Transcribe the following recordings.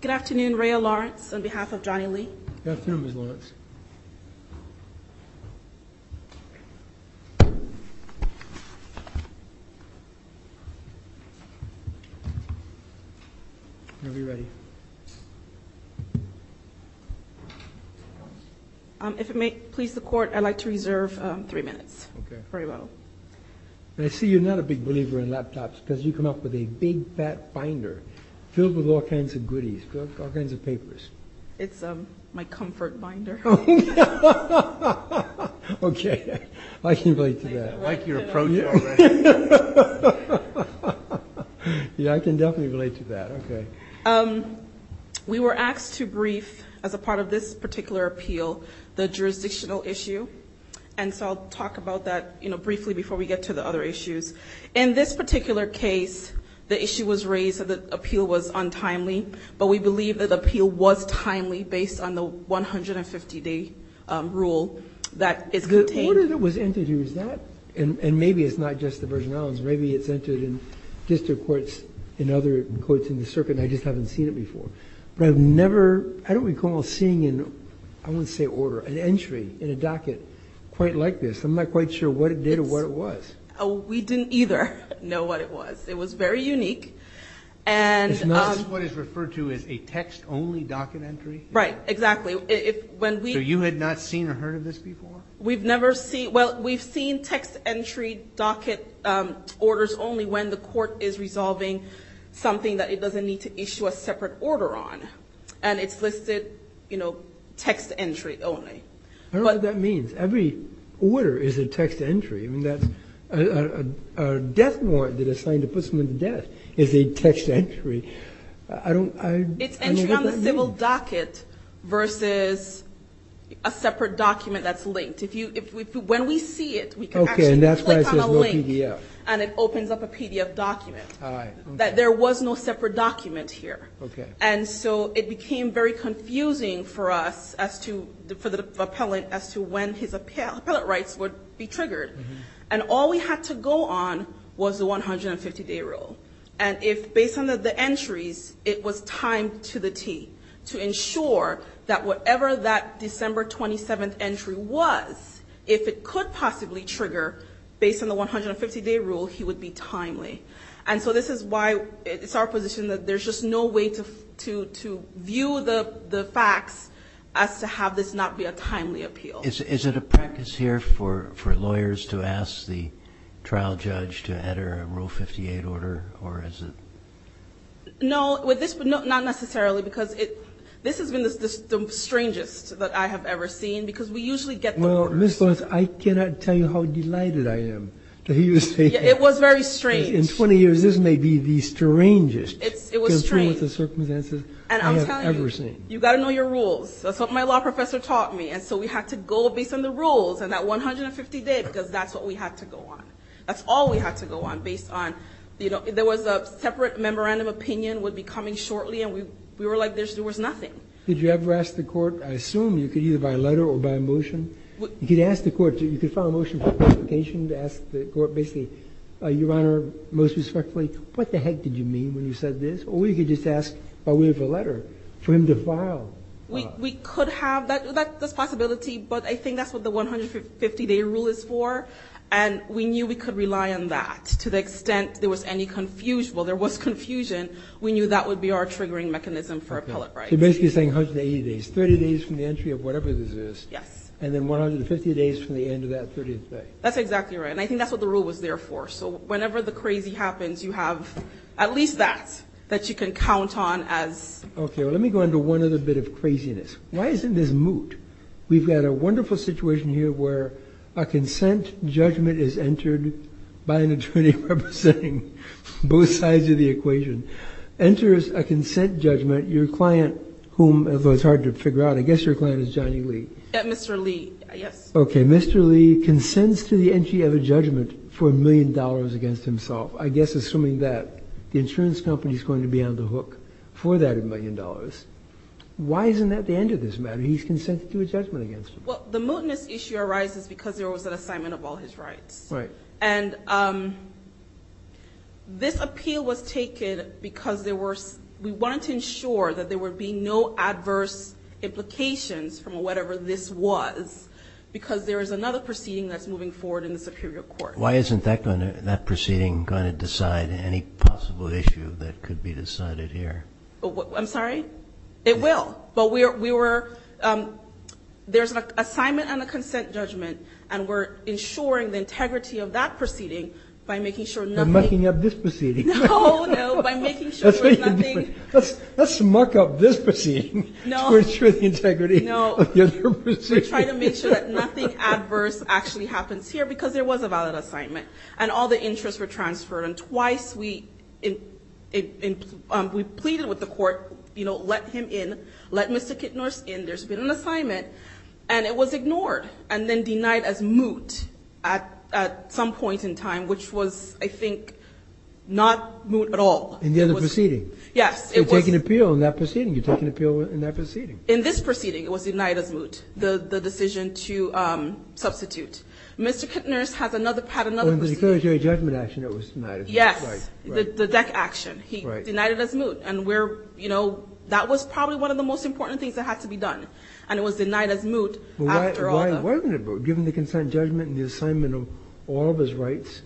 Good afternoon, Rhea Lawrence, on behalf of Johnny Lee. Good afternoon, Ms. Lawrence. If it may please the Court, I'd like to reserve three minutes for rebuttal. I see you're not a big believer in laptops because you come up with a big, fat binder filled with all kinds of goodies, all kinds of papers. It's my comfort binder. Okay. I can relate to that. I like your approach already. Yeah, I can definitely relate to that. Okay. We were asked to brief, as a part of this particular appeal, the jurisdictional issue. And so I'll talk about that briefly before we get to the other issues. In this particular case, the issue was raised that the appeal was untimely, but we believe that the appeal was timely based on the 150-day rule that is contained. The order that was entered here, is that? And maybe it's not just the Virgin Islands. Maybe it's entered in district courts, in other courts in the circuit, and I just haven't seen it before. But I've never, I don't recall seeing an, I wouldn't say order, an entry in a docket quite like this. I'm not quite sure what it did or what it was. We didn't either know what it was. It was very unique. It's not what is referred to as a text-only docket entry? Right, exactly. So you had not seen or heard of this before? We've never seen, well, we've seen text-entry docket orders only when the court is resolving something that it doesn't need to issue a separate order on. And it's listed, you know, text entry only. I don't know what that means. Every order is a text entry. I mean, that's, a death warrant that is signed to put someone to death is a text entry. I don't, I don't know what that means. It's a text entry on the civil docket versus a separate document that's linked. If you, when we see it, we can actually click on a link. Okay, and that's why it says no PDF. And it opens up a PDF document. All right, okay. That there was no separate document here. Okay. And so it became very confusing for us as to, for the appellant as to when his appellate rights would be triggered. And all we had to go on was the 150-day rule. And if based on the entries, it was timed to the T to ensure that whatever that December 27th entry was, if it could possibly trigger based on the 150-day rule, he would be timely. And so this is why it's our position that there's just no way to view the facts as to have this not be a timely appeal. Well, is it a practice here for lawyers to ask the trial judge to enter a Rule 58 order, or is it? No, not necessarily, because this has been the strangest that I have ever seen, because we usually get the words. Well, Ms. Lewis, I cannot tell you how delighted I am to hear you say that. It was very strange. In 20 years, this may be the strangest. It was strange. Concerning the circumstances I have ever seen. And I'm telling you, you've got to know your rules. That's what my law professor taught me. And so we had to go based on the rules and that 150-day, because that's what we had to go on. That's all we had to go on, based on, you know, there was a separate memorandum opinion would be coming shortly, and we were like there was nothing. Did you ever ask the court? I assume you could either by a letter or by a motion. You could ask the court. You could file a motion for clarification to ask the court basically, Your Honor, most respectfully, what the heck did you mean when you said this? Or you could just ask by way of a letter for him to file. We could have that possibility, but I think that's what the 150-day rule is for, and we knew we could rely on that to the extent there was any confusion. Well, there was confusion. We knew that would be our triggering mechanism for appellate rights. You're basically saying 180 days, 30 days from the entry of whatever this is. Yes. And then 150 days from the end of that 30th day. That's exactly right. And I think that's what the rule was there for. So whenever the crazy happens, you have at least that, that you can count on as. Okay. Well, let me go into one other bit of craziness. Why isn't this moot? We've got a wonderful situation here where a consent judgment is entered by an attorney representing both sides of the equation, enters a consent judgment. Your client whom, although it's hard to figure out, I guess your client is Johnny Lee. Mr. Lee. Yes. Okay. Mr. Lee consents to the entry of a judgment for a million dollars against himself. I guess assuming that the insurance company is going to be on the hook for that million dollars. Why isn't that the end of this matter? He's consented to a judgment against him. Well, the mootness issue arises because there was an assignment of all his rights. Right. And this appeal was taken because there were, we wanted to ensure that there would be no adverse implications from whatever this was because there is another proceeding that's moving forward in the superior court. Why isn't that proceeding going to decide any possible issue that could be decided here? I'm sorry? It will. But we were, there's an assignment and a consent judgment, and we're ensuring the integrity of that proceeding by making sure nothing. By mucking up this proceeding. No, no, by making sure there's nothing. We're trying to make sure that nothing adverse actually happens here because there was a valid assignment and all the interests were transferred. And twice we pleaded with the court, you know, let him in, let Mr. Kitnor in. There's been an assignment, and it was ignored and then denied as moot at some point in time, which was, I think, not moot at all. In the other proceeding? Yes. You're taking appeal in that proceeding. In this proceeding, it was denied as moot, the decision to substitute. Mr. Kitnor has another, had another proceeding. In the declaratory judgment action, it was denied as moot. Yes. Right. The deck action. Right. He denied it as moot. And we're, you know, that was probably one of the most important things that had to be done. And it was denied as moot after all the. Why wasn't it moot? Given the consent judgment and the assignment of all of his rights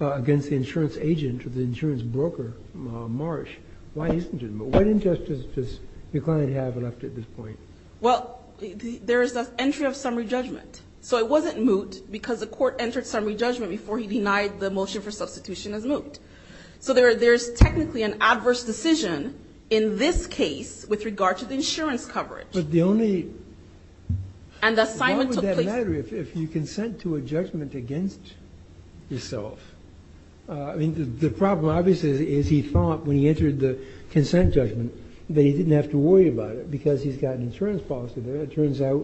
against the insurance agent or the insurance broker, Marsh, why isn't it moot? What injustice does your client have left at this point? Well, there is an entry of summary judgment. So it wasn't moot because the court entered summary judgment before he denied the motion for substitution as moot. So there's technically an adverse decision in this case with regard to the insurance coverage. But the only. And the assignment took place. Why would that matter if you consent to a judgment against yourself? I mean, the problem, obviously, is he thought when he entered the consent judgment that he didn't have to worry about it because he's got an insurance policy there. It turns out,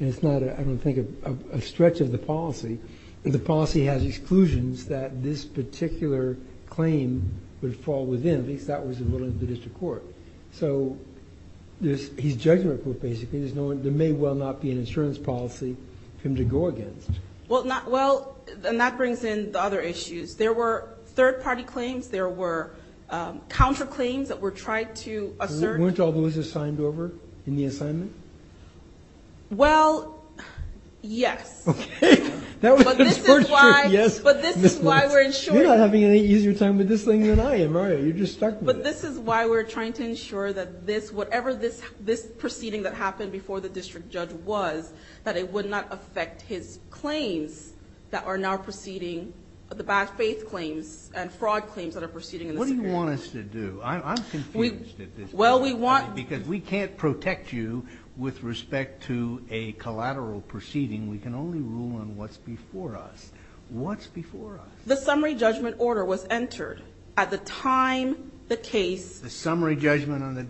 and it's not, I don't think, a stretch of the policy. The policy has exclusions that this particular claim would fall within. At least that was the ruling of the district court. So there's his judgment court, basically. There's no one. There may well not be an insurance policy for him to go against. Well, and that brings in the other issues. There were third-party claims. There were counterclaims that were tried to assert. Weren't all those assigned over in the assignment? Well, yes. Okay. But this is why we're ensuring. You're not having any easier time with this thing than I am, are you? You're just stuck with it. But this is why we're trying to ensure that whatever this proceeding that happened before the district judge was, that it would not affect his claims that are now proceeding, the bad faith claims and fraud claims that are proceeding in this case. What do you want us to do? I'm confused at this point. Well, we want to. Because we can't protect you with respect to a collateral proceeding. We can only rule on what's before us. What's before us? The summary judgment order was entered at the time the case. The summary judgment on the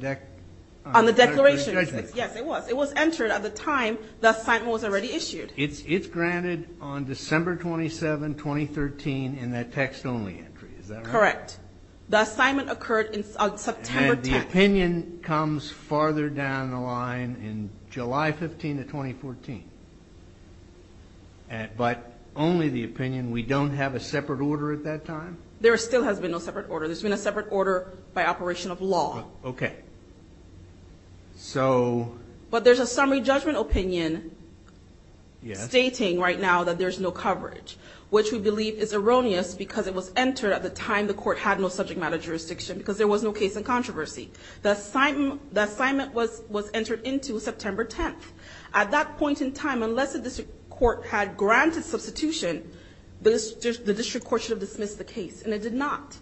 declaration. Yes, it was. It was entered at the time the assignment was already issued. It's granted on December 27, 2013 in that text-only entry. Is that right? Correct. The assignment occurred on September 10th. And the opinion comes farther down the line in July 15 of 2014. But only the opinion. We don't have a separate order at that time? There still has been no separate order. There's been a separate order by operation of law. Okay. So. But there's a summary judgment opinion stating right now that there's no coverage, which we believe is erroneous because it was entered at the time the court had no subject matter jurisdiction because there was no case in controversy. The assignment was entered into September 10th. At that point in time, unless the district court had granted substitution, the district court should have dismissed the case, and it did not.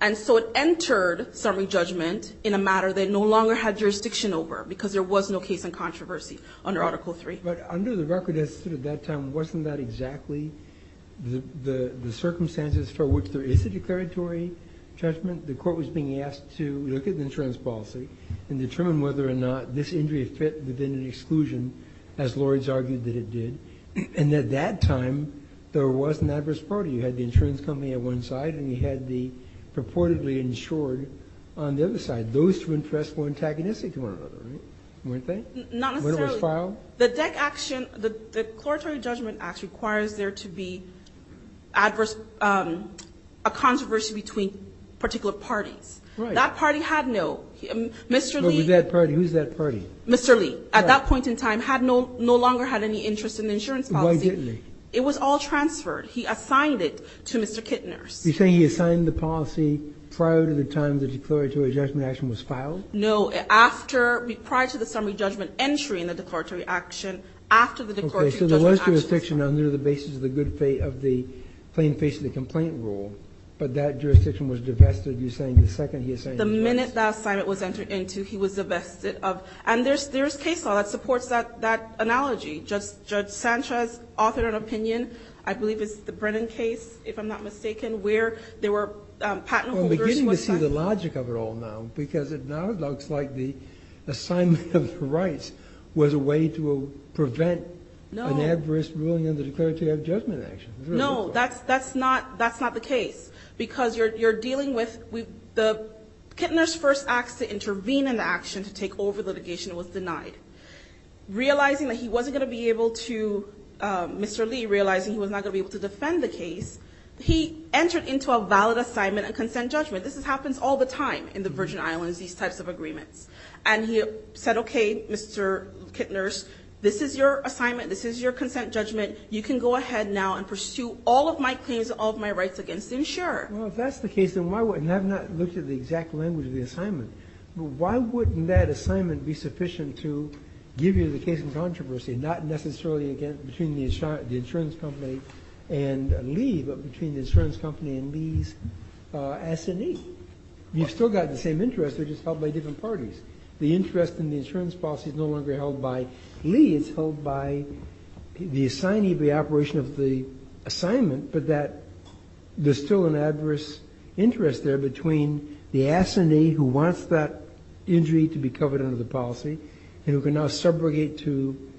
And so it entered summary judgment in a matter that no longer had jurisdiction over because there was no case in controversy under Article III. But under the record as it stood at that time, wasn't that exactly the circumstances for which there is a declaratory judgment? The court was being asked to look at the insurance policy and determine whether or not this injury fit within an exclusion, as Lourdes argued that it did. And at that time, there was an adverse party. You had the insurance company on one side, and you had the purportedly insured on the other side. Those two interests were antagonistic to one another, right? Weren't they? Not necessarily. When it was filed? The DEC action, the declaratory judgment act requires there to be adverse, a controversy between particular parties. Right. That party had no. Mr. Lee. Who's that party? Mr. Lee, at that point in time, had no longer had any interest in the insurance policy. Why didn't he? It was all transferred. He assigned it to Mr. Kittners. You're saying he assigned the policy prior to the time the declaratory judgment action was filed? No. After, prior to the summary judgment entry in the declaratory action, after the declaratory judgment action was filed. Okay. So there was jurisdiction under the basis of the good fate of the plain face of the complaint rule, but that jurisdiction was divested, you're saying, the second he assigned the policy? The minute that assignment was entered into, he was divested of. And there's case law that supports that analogy. Judge Sanchez authored an opinion, I believe it's the Brennan case, if I'm not mistaken, where there were patent holders. We're beginning to see the logic of it all now, because it now looks like the assignment of the rights was a way to prevent an adverse ruling in the declaratory judgment action. No, that's not the case. Because you're dealing with the, Kittners first asked to intervene in the action to take over litigation. It was denied. Realizing that he wasn't going to be able to, Mr. Lee realizing he was not going to be able to defend the case, he entered into a valid assignment and consent judgment. This happens all the time in the Virgin Islands, these types of agreements. And he said, okay, Mr. Kittners, this is your assignment, this is your consent judgment, you can go ahead now and pursue all of my claims and all of my rights against the insurer. Well, if that's the case, then why would, and I've not looked at the exact language of the assignment. But why wouldn't that assignment be sufficient to give you the case in controversy, not necessarily between the insurance company and Lee, but between the insurance company and Lee's assignee? You've still got the same interest, they're just held by different parties. The interest in the insurance policy is no longer held by Lee. It's held by the assignee of the operation of the assignment, but that there's still an adverse interest there between the assignee who wants that injury to be covered under the policy, and who can now subrogate to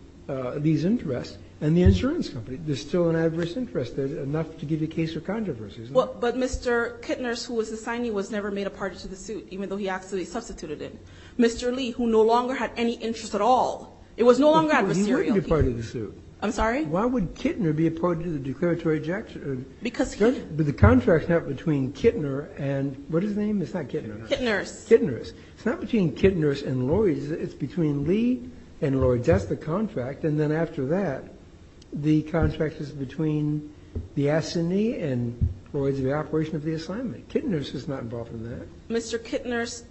these interests, and the insurance company. There's still an adverse interest there, enough to give you a case of controversy, isn't there? But Mr. Kittners, who was the assignee, was never made a party to the suit, even though he actually substituted it. Mr. Lee, who no longer had any interest at all, it was no longer adversarial. But he would be part of the suit. I'm sorry? Why would Kittner be a part of the declaratory judgment? Because he would. But the contract's not between Kittner and, what is his name? It's not Kittner. Kittners. Kittners. It's not between Kittners and Lloyds. It's between Lee and Lloyds. That's the contract. And then after that, the contract is between the assignee and Lloyds of the operation of the assignment. Kittners is not involved in that. Mr. Kittners,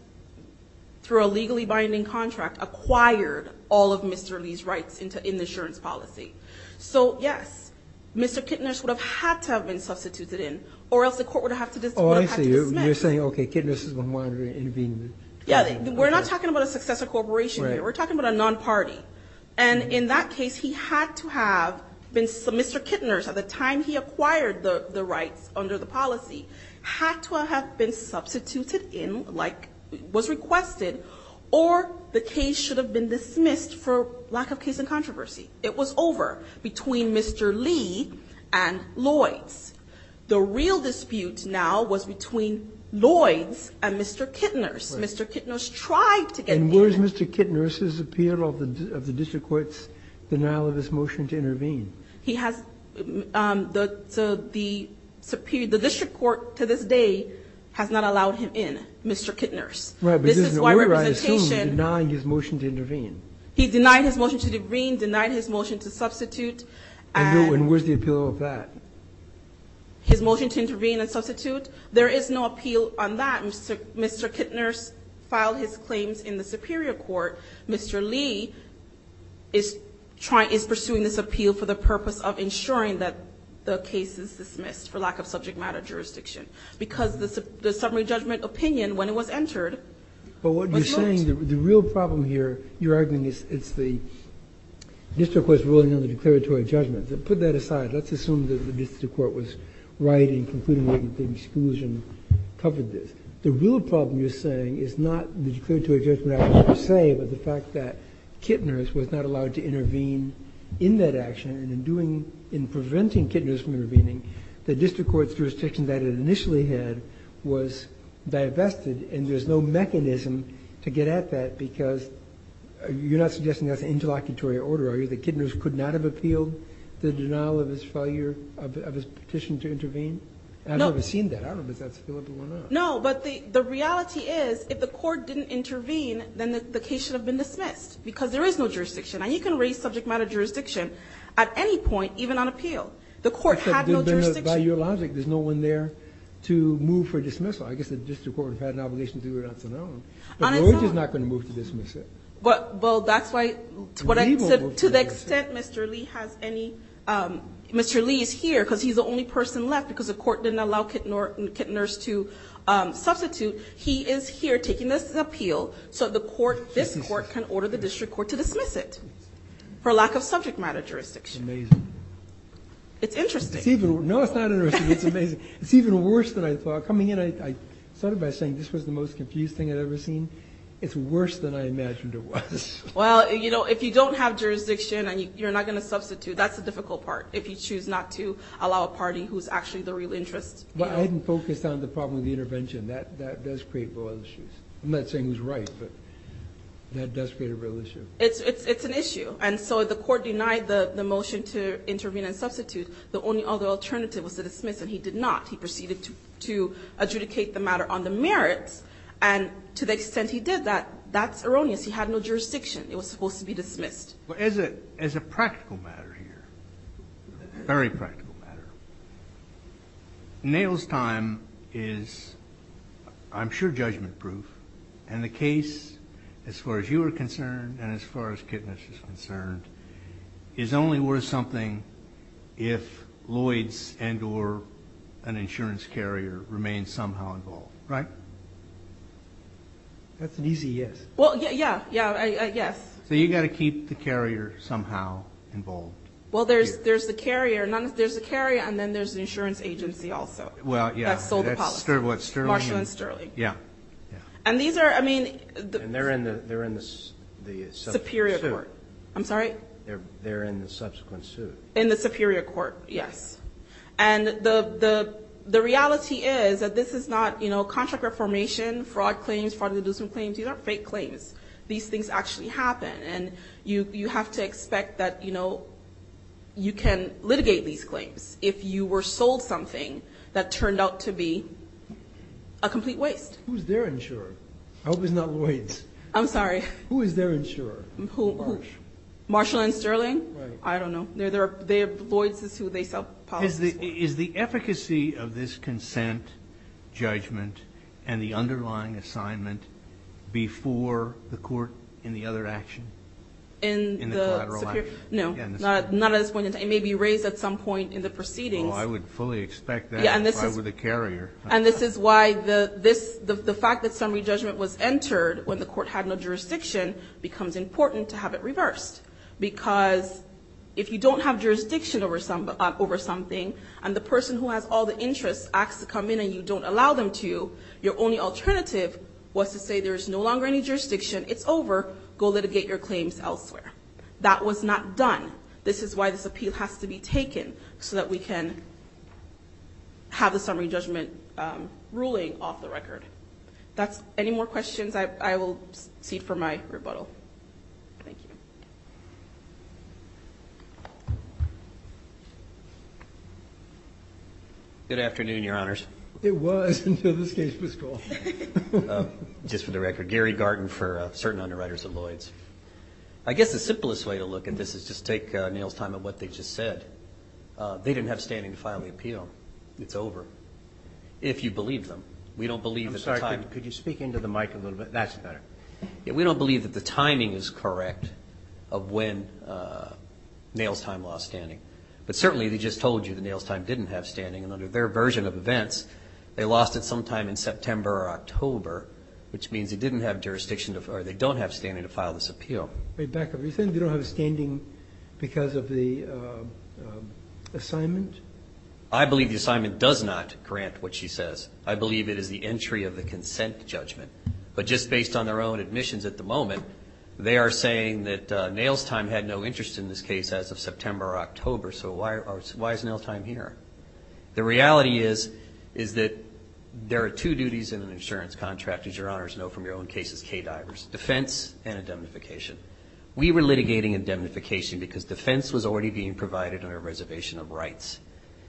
through a legally binding contract, acquired all of Mr. Lee's rights in the insurance policy. So, yes, Mr. Kittners would have had to have been substituted in, or else the court would have had to dismiss. Oh, I see. You're saying, okay, Kittners is a minor intervener. Yeah. We're not talking about a successor corporation here. Right. We're talking about a non-party. And in that case, he had to have been Mr. Kittners, at the time he acquired the rights under the policy, had to have been substituted in, like was requested, or the case should have been dismissed for lack of case and controversy. It was over between Mr. Lee and Lloyds. The real dispute now was between Lloyds and Mr. Kittners. Right. Mr. Kittners tried to get in. And where is Mr. Kittners' appeal of the district court's denial of his motion to intervene? He has the district court to this day has not allowed him in, Mr. Kittners. Right. But there's an order, I assume, denying his motion to intervene. He denied his motion to intervene, denied his motion to substitute. And where's the appeal of that? His motion to intervene and substitute? There is no appeal on that. Mr. Kittners filed his claims in the superior court. Mr. Lee is pursuing this appeal for the purpose of ensuring that the case is dismissed for lack of subject matter jurisdiction. Because the summary judgment opinion, when it was entered, was voted. But what you're saying, the real problem here, you're arguing, is it's the district court's ruling on the declaratory judgment. Put that aside. Let's assume that the district court was right in concluding that the exclusion covered this. The real problem you're saying is not the declaratory judgment action per se, but the fact that Kittners was not allowed to intervene in that action. And in doing, in preventing Kittners from intervening, the district court's jurisdiction that it initially had was divested. And there's no mechanism to get at that, because you're not suggesting that's an interlocutory order, are you? That Kittners could not have appealed the denial of his petition to intervene? I've never seen that. I don't know if that's available or not. No, but the reality is, if the court didn't intervene, then the case should have been dismissed, because there is no jurisdiction. And you can raise subject matter jurisdiction at any point, even on appeal. The court had no jurisdiction. By your logic, there's no one there to move for dismissal. I guess the district court had an obligation to do it on its own. But George is not going to move to dismiss it. Well, that's why, to the extent Mr. Lee has any, Mr. Lee is here because he's the only person left, because the court didn't allow Kittners to substitute. He is here taking this appeal so the court, this court, can order the district court to dismiss it for lack of subject matter jurisdiction. Amazing. It's interesting. No, it's not interesting. It's amazing. It's even worse than I thought. Coming in, I started by saying this was the most confused thing I'd ever seen. It's worse than I imagined it was. Well, you know, if you don't have jurisdiction and you're not going to substitute, that's the difficult part, if you choose not to allow a party who's actually the real interest. But I didn't focus on the problem with the intervention. That does create real issues. I'm not saying it was right, but that does create a real issue. It's an issue. And so the court denied the motion to intervene and substitute. The only other alternative was to dismiss, and he did not. He proceeded to adjudicate the matter on the merits, and to the extent he did that, that's erroneous. He had no jurisdiction. It was supposed to be dismissed. As a practical matter here, very practical matter, Nail's time is, I'm sure, judgment-proof, and the case, as far as you are concerned and as far as Kittners is concerned, is only worth something if Lloyds and or an insurance carrier remain somehow involved. Right? That's an easy yes. Well, yeah, yeah, yes. So you've got to keep the carrier somehow involved. Well, there's the carrier, and then there's the insurance agency also. Well, yeah. That's Sterling. Marshall and Sterling. Yeah. Yeah. And these are, I mean. And they're in the superior court. I'm sorry? They're in the subsequent suit. In the superior court, yes. And the reality is that this is not, you know, contract reformation, fraud claims, fraud and inducement claims. These aren't fake claims. These things actually happen, and you have to expect that, you know, you can litigate these claims if you were sold something that turned out to be a complete waste. Who's their insurer? I hope it's not Lloyds. I'm sorry. Who is their insurer? Marshall. Marshall and Sterling? Right. I don't know. Lloyds is who they sell policies for. Is the efficacy of this consent judgment and the underlying assignment before the court in the other action, in the collateral action? No, not at this point in time. It may be raised at some point in the proceedings. Oh, I would fully expect that if I were the carrier. And this is why the fact that summary judgment was entered when the court had no jurisdiction becomes important to have it reversed because if you don't have jurisdiction over something and the person who has all the interests asks to come in and you don't allow them to, your only alternative was to say there is no longer any jurisdiction, it's over, go litigate your claims elsewhere. That was not done. This is why this appeal has to be taken so that we can have the summary judgment ruling off the record. Any more questions, I will cede for my rebuttal. Thank you. Good afternoon, Your Honors. It was until this case was called. Just for the record, Gary Garden for certain underwriters of Lloyds. I guess the simplest way to look at this is just take Neil's time at what they just said. They didn't have standing to file the appeal. It's over. If you believe them. We don't believe at the time. I'm sorry, could you speak into the mic a little bit? That's better. We don't believe that the timing is correct of when Neil's time lost standing. But certainly they just told you that Neil's time didn't have standing. And under their version of events, they lost it sometime in September or October, which means they didn't have jurisdiction or they don't have standing to file this appeal. Wait, back up. Are you saying they don't have standing because of the assignment? I believe the assignment does not grant what she says. I believe it is the entry of the consent judgment. But just based on their own admissions at the moment, they are saying that Neil's time had no interest in this case as of September or October. So why is Neil's time here? The reality is that there are two duties in an insurance contract, as your honors know from your own cases, K-divers, defense and indemnification. We were litigating indemnification because defense was already being provided under a reservation of rights.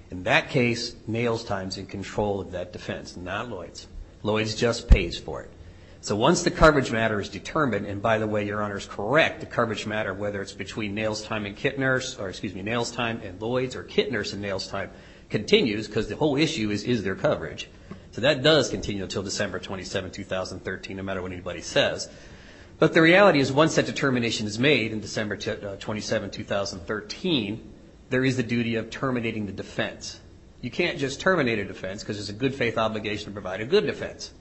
In that case, Neil's time is in control of that defense, not Lloyd's. Lloyd's just pays for it. So once the coverage matter is determined, and by the way, your honors correct, the coverage matter, whether it's between Neil's time and Kittner's or, excuse me, Neil's time and Lloyd's or Kittner's and Neil's time continues because the whole issue is, is there coverage? So that does continue until December 27, 2013, no matter what anybody says. But the reality is once that determination is made in December 27, 2013, there is the duty of terminating the defense. You can't just terminate a defense because it's a good faith obligation to provide a good defense.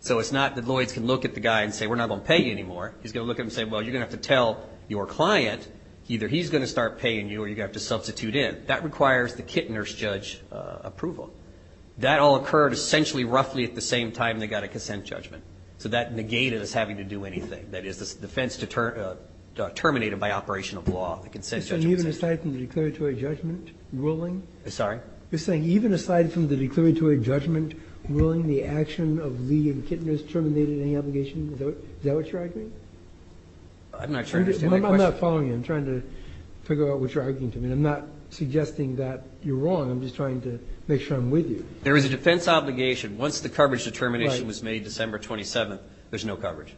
So it's not that Lloyd's can look at the guy and say, we're not going to pay you anymore. He's going to look at him and say, well, you're going to have to tell your client either he's going to start paying you or you're going to have to substitute in. That requires the Kittner's judge approval. That all occurred essentially roughly at the same time they got a consent judgment. So that negated us having to do anything. That is, the defense terminated by operation of law, the consent judgment. You're saying even aside from the declaratory judgment ruling? Sorry? You're saying even aside from the declaratory judgment ruling, the action of Lee and Kittner's terminated any obligation? Is that what you're arguing? I'm not sure I understand the question. I'm not following you. I'm trying to figure out what you're arguing to me. I'm not suggesting that you're wrong. I'm just trying to make sure I'm with you. There is a defense obligation. Once the coverage determination was made December 27, there's no coverage.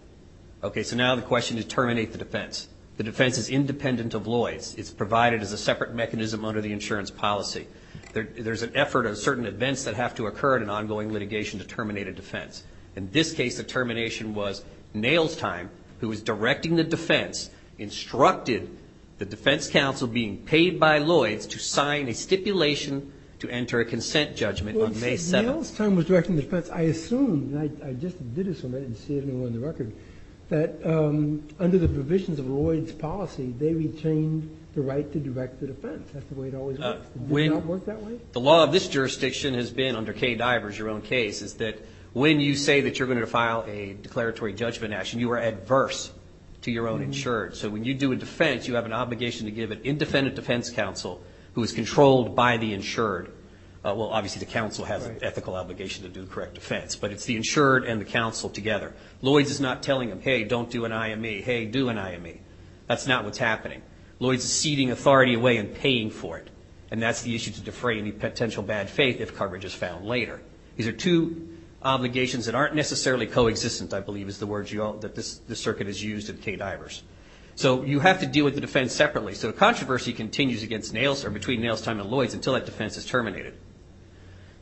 Okay, so now the question is terminate the defense. The defense is independent of Lloyd's. It's provided as a separate mechanism under the insurance policy. There's an effort of certain events that have to occur in an ongoing litigation to terminate a defense. In this case, the termination was Nailstein, who was directing the defense, instructed the defense counsel being paid by Lloyd's to sign a stipulation to enter a consent judgment on May 7th. Nailstein was directing the defense. I assume, and I just did assume, I didn't see anyone on the record, that under the provisions of Lloyd's policy, they retained the right to direct the defense. That's the way it always works. Does it not work that way? The law of this jurisdiction has been, under Kay Diver's, your own case, is that when you say that you're going to file a declaratory judgment action, you are adverse to your own insured. So when you do a defense, you have an obligation to give an independent defense counsel, who is controlled by the insured. Well, obviously the counsel has an ethical obligation to do the correct defense, but it's the insured and the counsel together. Lloyd's is not telling them, hey, don't do an IME, hey, do an IME. That's not what's happening. Lloyd's is ceding authority away and paying for it, and that's the issue to defray any potential bad faith if coverage is found later. These are two obligations that aren't necessarily coexistent, I believe, is the word that this circuit has used in Kay Diver's. So you have to deal with the defense separately. So the controversy continues between Nailstein and Lloyd's until that defense is terminated.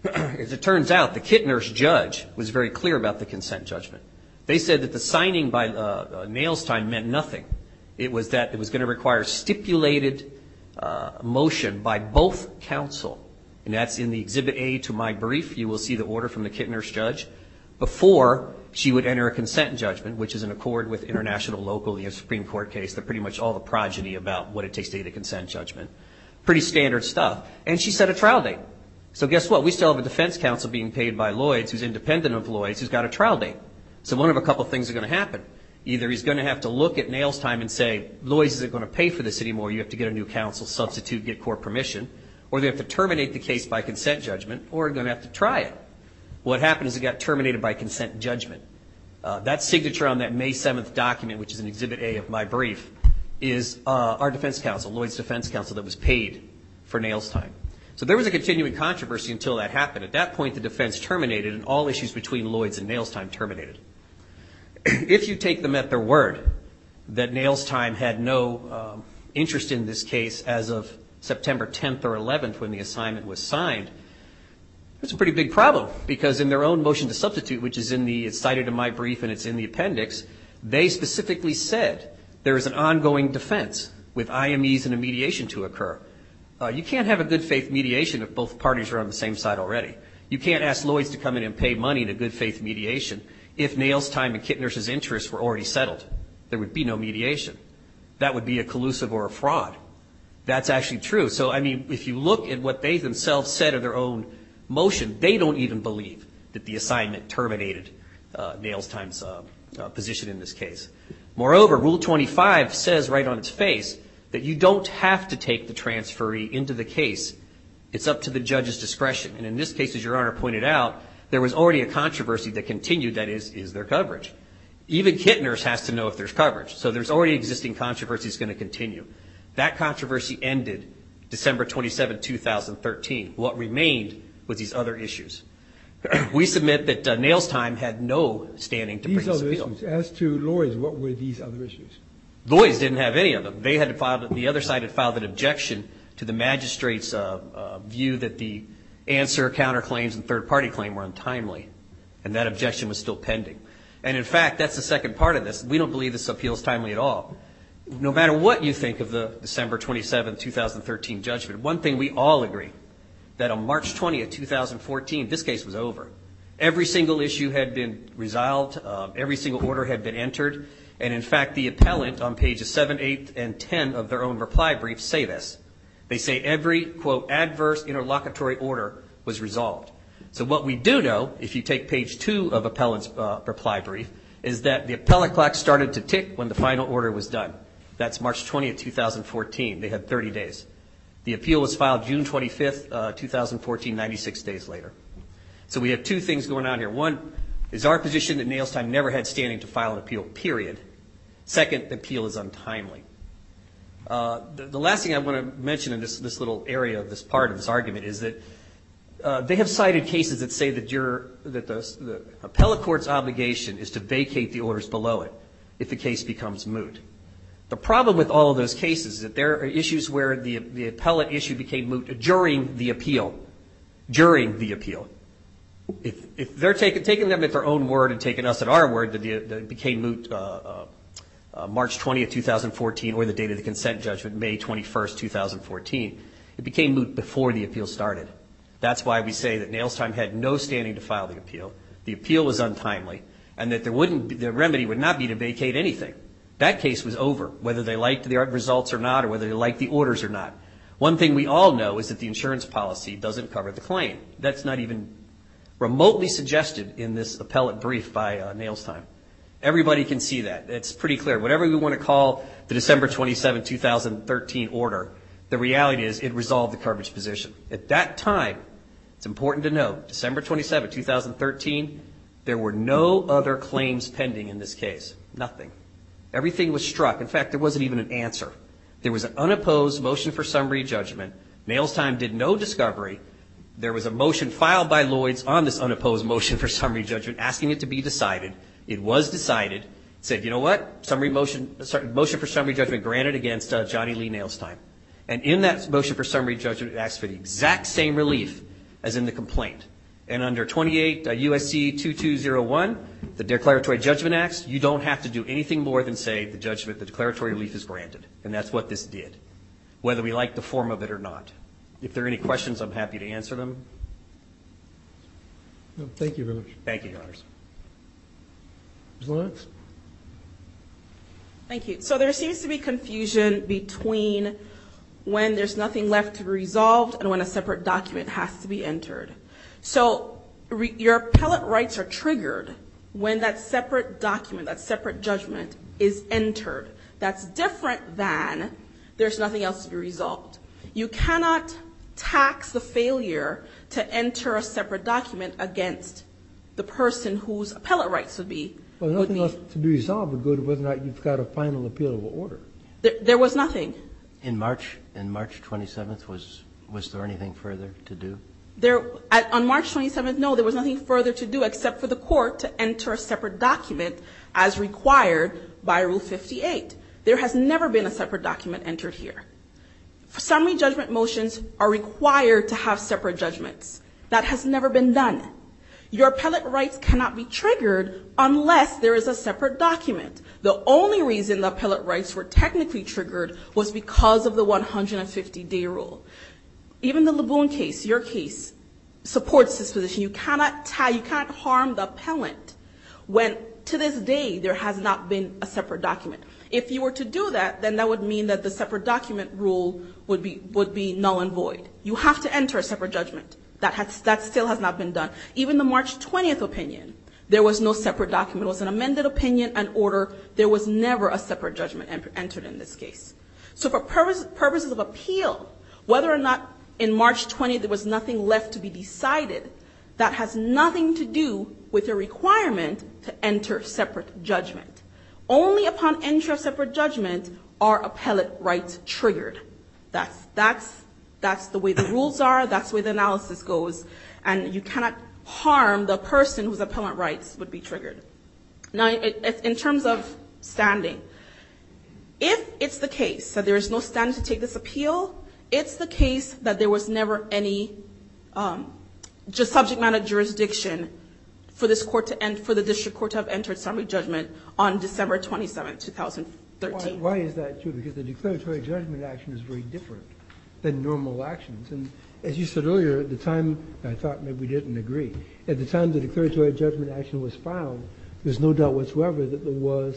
As it turns out, the kit nurse judge was very clear about the consent judgment. They said that the signing by Nailstein meant nothing. It was that it was going to require stipulated motion by both counsel, and that's in the Exhibit A to my brief. You will see the order from the kit nurse judge before she would enter a consent judgment, which is in accord with international, local, Supreme Court case, pretty much all the progeny about what it takes to get a consent judgment. Pretty standard stuff. And she set a trial date. So guess what? We still have a defense counsel being paid by Lloyd's who's independent of Lloyd's who's got a trial date. So one of a couple things is going to happen. Either he's going to have to look at Nailstein and say, Lloyd's isn't going to pay for this anymore, you have to get a new counsel, substitute, get court permission, or they have to terminate the case by consent judgment, or they're going to have to try it. What happened is it got terminated by consent judgment. That signature on that May 7th document, which is in Exhibit A of my brief, is our defense counsel, Lloyd's defense counsel that was paid for Nailstein. So there was a continuing controversy until that happened. At that point, the defense terminated, and all issues between Lloyd's and Nailstein terminated. If you take them at their word that Nailstein had no interest in this case as of September 10th or 11th when the assignment was signed, that's a pretty big problem, because in their own motion to substitute, which is cited in my brief and it's in the appendix, they specifically said there is an ongoing defense with IMEs and a mediation to occur. You can't have a good-faith mediation if both parties are on the same side already. You can't ask Lloyd's to come in and pay money in a good-faith mediation if Nailstein and Kittner's interests were already settled. There would be no mediation. That would be a collusive or a fraud. That's actually true. So, I mean, if you look at what they themselves said in their own motion, they don't even believe that the assignment terminated Nailstein's position in this case. Moreover, Rule 25 says right on its face that you don't have to take the transferee into the case. It's up to the judge's discretion. And in this case, as Your Honor pointed out, there was already a controversy that continued. That is, is there coverage? Even Kittner's has to know if there's coverage. So there's already existing controversy that's going to continue. That controversy ended December 27th, 2013. What remained was these other issues. We submit that Nailstein had no standing to bring this appeal. These other issues. As to Lloyd's, what were these other issues? Lloyd's didn't have any of them. They had filed it. The other side had filed an objection to the magistrate's view that the answer, counterclaims and third-party claim were untimely. And that objection was still pending. And, in fact, that's the second part of this. We don't believe this appeal is timely at all. No matter what you think of the December 27th, 2013 judgment, one thing we all agree, that on March 20th, 2014, this case was over. Every single issue had been resolved. Every single order had been entered. And, in fact, the appellant on pages 7, 8, and 10 of their own reply brief say this. They say every, quote, adverse interlocutory order was resolved. So what we do know, if you take page 2 of the appellant's reply brief, is that the appellant clock started to tick when the final order was done. That's March 20th, 2014. They had 30 days. The appeal was filed June 25th, 2014, 96 days later. So we have two things going on here. One is our position that Nailstein never had standing to file an appeal, period. Second, the appeal is untimely. The last thing I want to mention in this little area of this part of this argument is that they have cited cases that say that the appellate court's obligation is to vacate the orders below it if the case becomes moot. The problem with all of those cases is that there are issues where the appellate issue became moot during the appeal, during the appeal. If they're taking them at their own word and taking us at our word that it became moot March 20th, 2014, or the date of the consent judgment, May 21st, 2014, it became moot before the appeal started. That's why we say that Nailstein had no standing to file the appeal, the appeal was untimely, and that the remedy would not be to vacate anything. That case was over, whether they liked the results or not, or whether they liked the orders or not. One thing we all know is that the insurance policy doesn't cover the claim. That's not even remotely suggested in this appellate brief by Nailstein. Everybody can see that. It's pretty clear. Whatever we want to call the December 27, 2013 order, the reality is it resolved the coverage position. At that time, it's important to know, December 27, 2013, there were no other claims pending in this case. Nothing. Everything was struck. In fact, there wasn't even an answer. There was an unopposed motion for summary judgment. Nailstein did no discovery. There was a motion filed by Lloyds on this unopposed motion for summary judgment asking it to be decided. It was decided. It said, you know what, motion for summary judgment granted against Johnny Lee Nailstein. And in that motion for summary judgment, it asked for the exact same relief as in the complaint. And under 28 USC 2201, the Declaratory Judgment Acts, you don't have to do anything more than say the judgment, the declaratory relief is granted. And that's what this did, whether we like the form of it or not. If there are any questions, I'm happy to answer them. Thank you very much. Thank you, Your Honors. Thank you. So there seems to be confusion between when there's nothing left to resolve and when a separate document has to be entered. So your appellate rights are triggered when that separate document, that separate judgment is entered. That's different than there's nothing else to be resolved. You cannot tax the failure to enter a separate document against the person whose appellate rights would be. Well, nothing else to be resolved would go to whether or not you've got a final appealable order. There was nothing. In March 27th, was there anything further to do? On March 27th, no, there was nothing further to do except for the court to enter a separate document as required by Rule 58. There has never been a separate document entered here. Summary judgment motions are required to have separate judgments. That has never been done. Your appellate rights cannot be triggered unless there is a separate document. The only reason the appellate rights were technically triggered was because of the 150-day rule. Even the Laboon case, your case, supports this position. You cannot harm the appellant when to this day there has not been a separate document. If you were to do that, then that would mean that the separate document rule would be null and void. You have to enter a separate judgment. That still has not been done. Even the March 20th opinion, there was no separate document. It was an amended opinion and order. There was never a separate judgment entered in this case. So for purposes of appeal, whether or not in March 20th there was nothing left to be decided, that has nothing to do with the requirement to enter separate judgment. Only upon entry of separate judgment are appellate rights triggered. That's the way the rules are. That's the way the analysis goes. And you cannot harm the person whose appellate rights would be triggered. Now, in terms of standing, if it's the case that there is no standing to take this appeal, it's the case that there was never any subject matter jurisdiction for the district court to have entered separate judgment on December 27th, 2013. Why is that true? Because the declaratory judgment action is very different than normal actions. And as you said earlier, at the time, I thought maybe we didn't agree, at the time the declaratory judgment action was filed, there was no doubt whatsoever that there was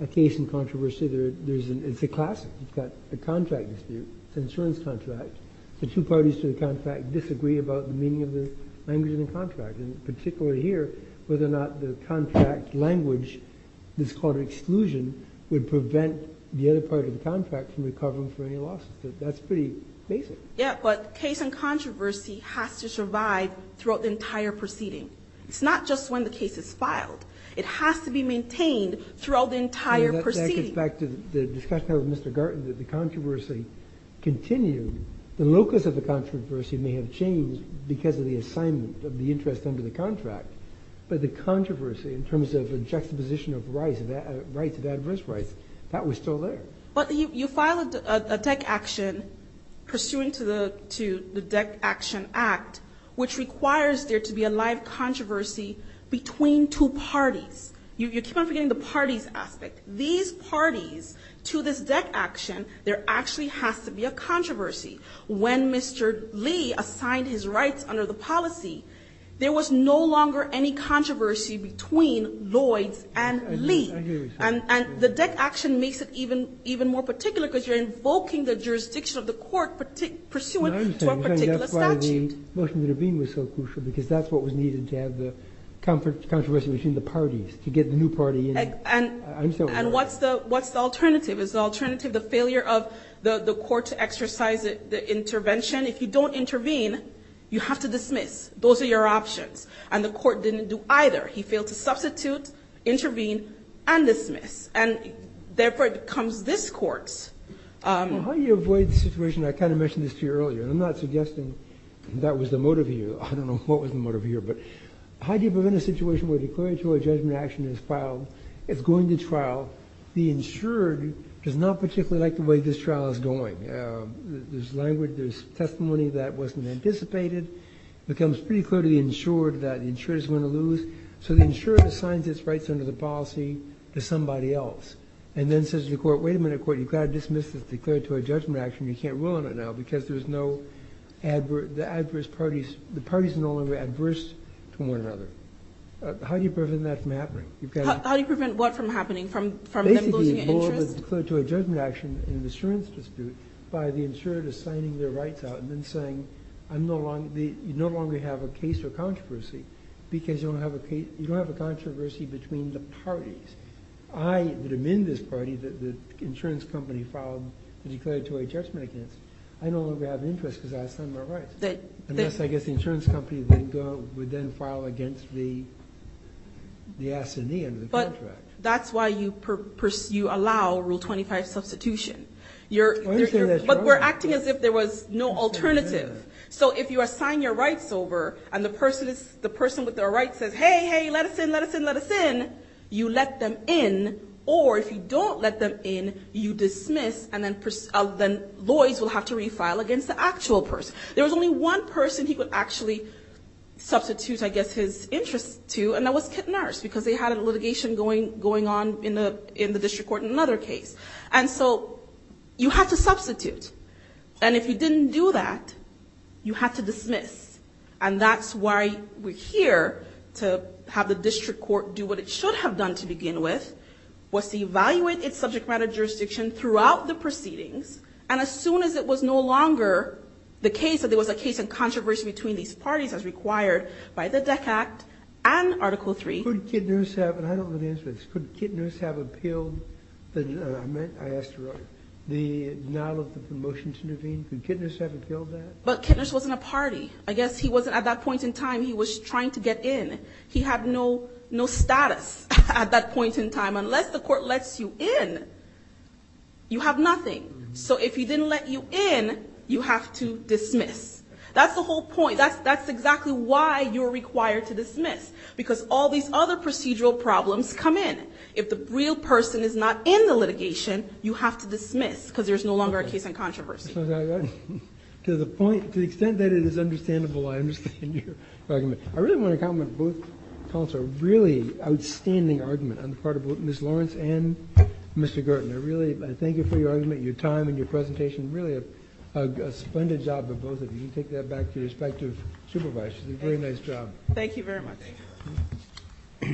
a case in controversy. It's a classic. You've got a contract dispute. It's an insurance contract. The two parties to the contract disagree about the meaning of the language in the contract, and particularly here, whether or not the contract language that's called exclusion would prevent the other part of the contract from recovering for any losses. That's pretty basic. Yeah, but case in controversy has to survive throughout the entire proceeding. It's not just when the case is filed. It has to be maintained throughout the entire proceeding. That goes back to the discussion with Mr. Garten that the controversy continued. The locus of the controversy may have changed because of the assignment of the interest under the contract, but the controversy in terms of the juxtaposition of rights, of adverse rights, that was still there. But you filed a DEC action pursuant to the DEC action act, which requires there to be a live controversy between two parties. You keep on forgetting the parties aspect. These parties to this DEC action, there actually has to be a controversy. When Mr. Lee assigned his rights under the policy, the DEC action makes it even more particular because you're invoking the jurisdiction of the court pursuant to a particular statute. That's why the motion to intervene was so crucial because that's what was needed to have the controversy between the parties, to get the new party in. And what's the alternative? Is the alternative the failure of the court to exercise the intervention? If you don't intervene, you have to dismiss. Those are your options. And the court didn't do either. He failed to substitute, intervene, and dismiss. And, therefore, it becomes this court's. Well, how do you avoid the situation? I kind of mentioned this to you earlier, and I'm not suggesting that was the motive here. I don't know what was the motive here. But how do you prevent a situation where declaratory judgment action is filed, it's going to trial, the insured does not particularly like the way this trial is going? There's language, there's testimony that wasn't anticipated. It becomes pretty clear to the insured that the insured is going to lose. So the insured assigns its rights under the policy to somebody else and then says to the court, wait a minute, court, you've got to dismiss this declaratory judgment action. You can't rule on it now because there's no adverse parties. The parties are no longer adverse to one another. How do you prevent that from happening? How do you prevent what from happening, from them losing interest? Basically, all of it is declared to a judgment action in an insurance dispute by the insured assigning their rights out and then saying, you no longer have a case or controversy because you don't have a controversy between the parties. I would amend this party that the insurance company filed the declaratory judgment against. I no longer have an interest because I assigned my rights. I guess the insurance company would then file against the assignee under the contract. But that's why you allow Rule 25 substitution. But we're acting as if there was no alternative. So if you assign your rights over and the person with their rights says, hey, hey, let us in, let us in, let us in, you let them in. Or if you don't let them in, you dismiss, and then Lloyds will have to refile against the actual person. There was only one person he could actually substitute, I guess, his interest to, and that was Kit Nurse because they had a litigation going on in the district court in another case. And so you have to substitute. And if you didn't do that, you have to dismiss. And that's why we're here to have the district court do what it should have done to begin with, was to evaluate its subject matter jurisdiction throughout the proceedings. And as soon as it was no longer the case that there was a case and controversy between these parties as required by the DEC Act and Article III. Could Kit Nurse have, and I don't know the answer to this, could Kit Nurse have appealed, I asked her, the denial of the motion to intervene, could Kit Nurse have appealed that? But Kit Nurse wasn't a party. I guess he wasn't, at that point in time, he was trying to get in. He had no status at that point in time. Unless the court lets you in, you have nothing. So if he didn't let you in, you have to dismiss. That's exactly why you're required to dismiss, because all these other procedural problems come in. If the real person is not in the litigation, you have to dismiss, because there's no longer a case and controversy. To the point, to the extent that it is understandable, I understand your argument. I really want to compliment both counsels. Really outstanding argument on the part of both Ms. Lawrence and Mr. Gorton. I really thank you for your argument, your time, and your presentation. Really a splendid job of both of you. You can take that back to your respective supervisors. Very nice job. Thank you very much.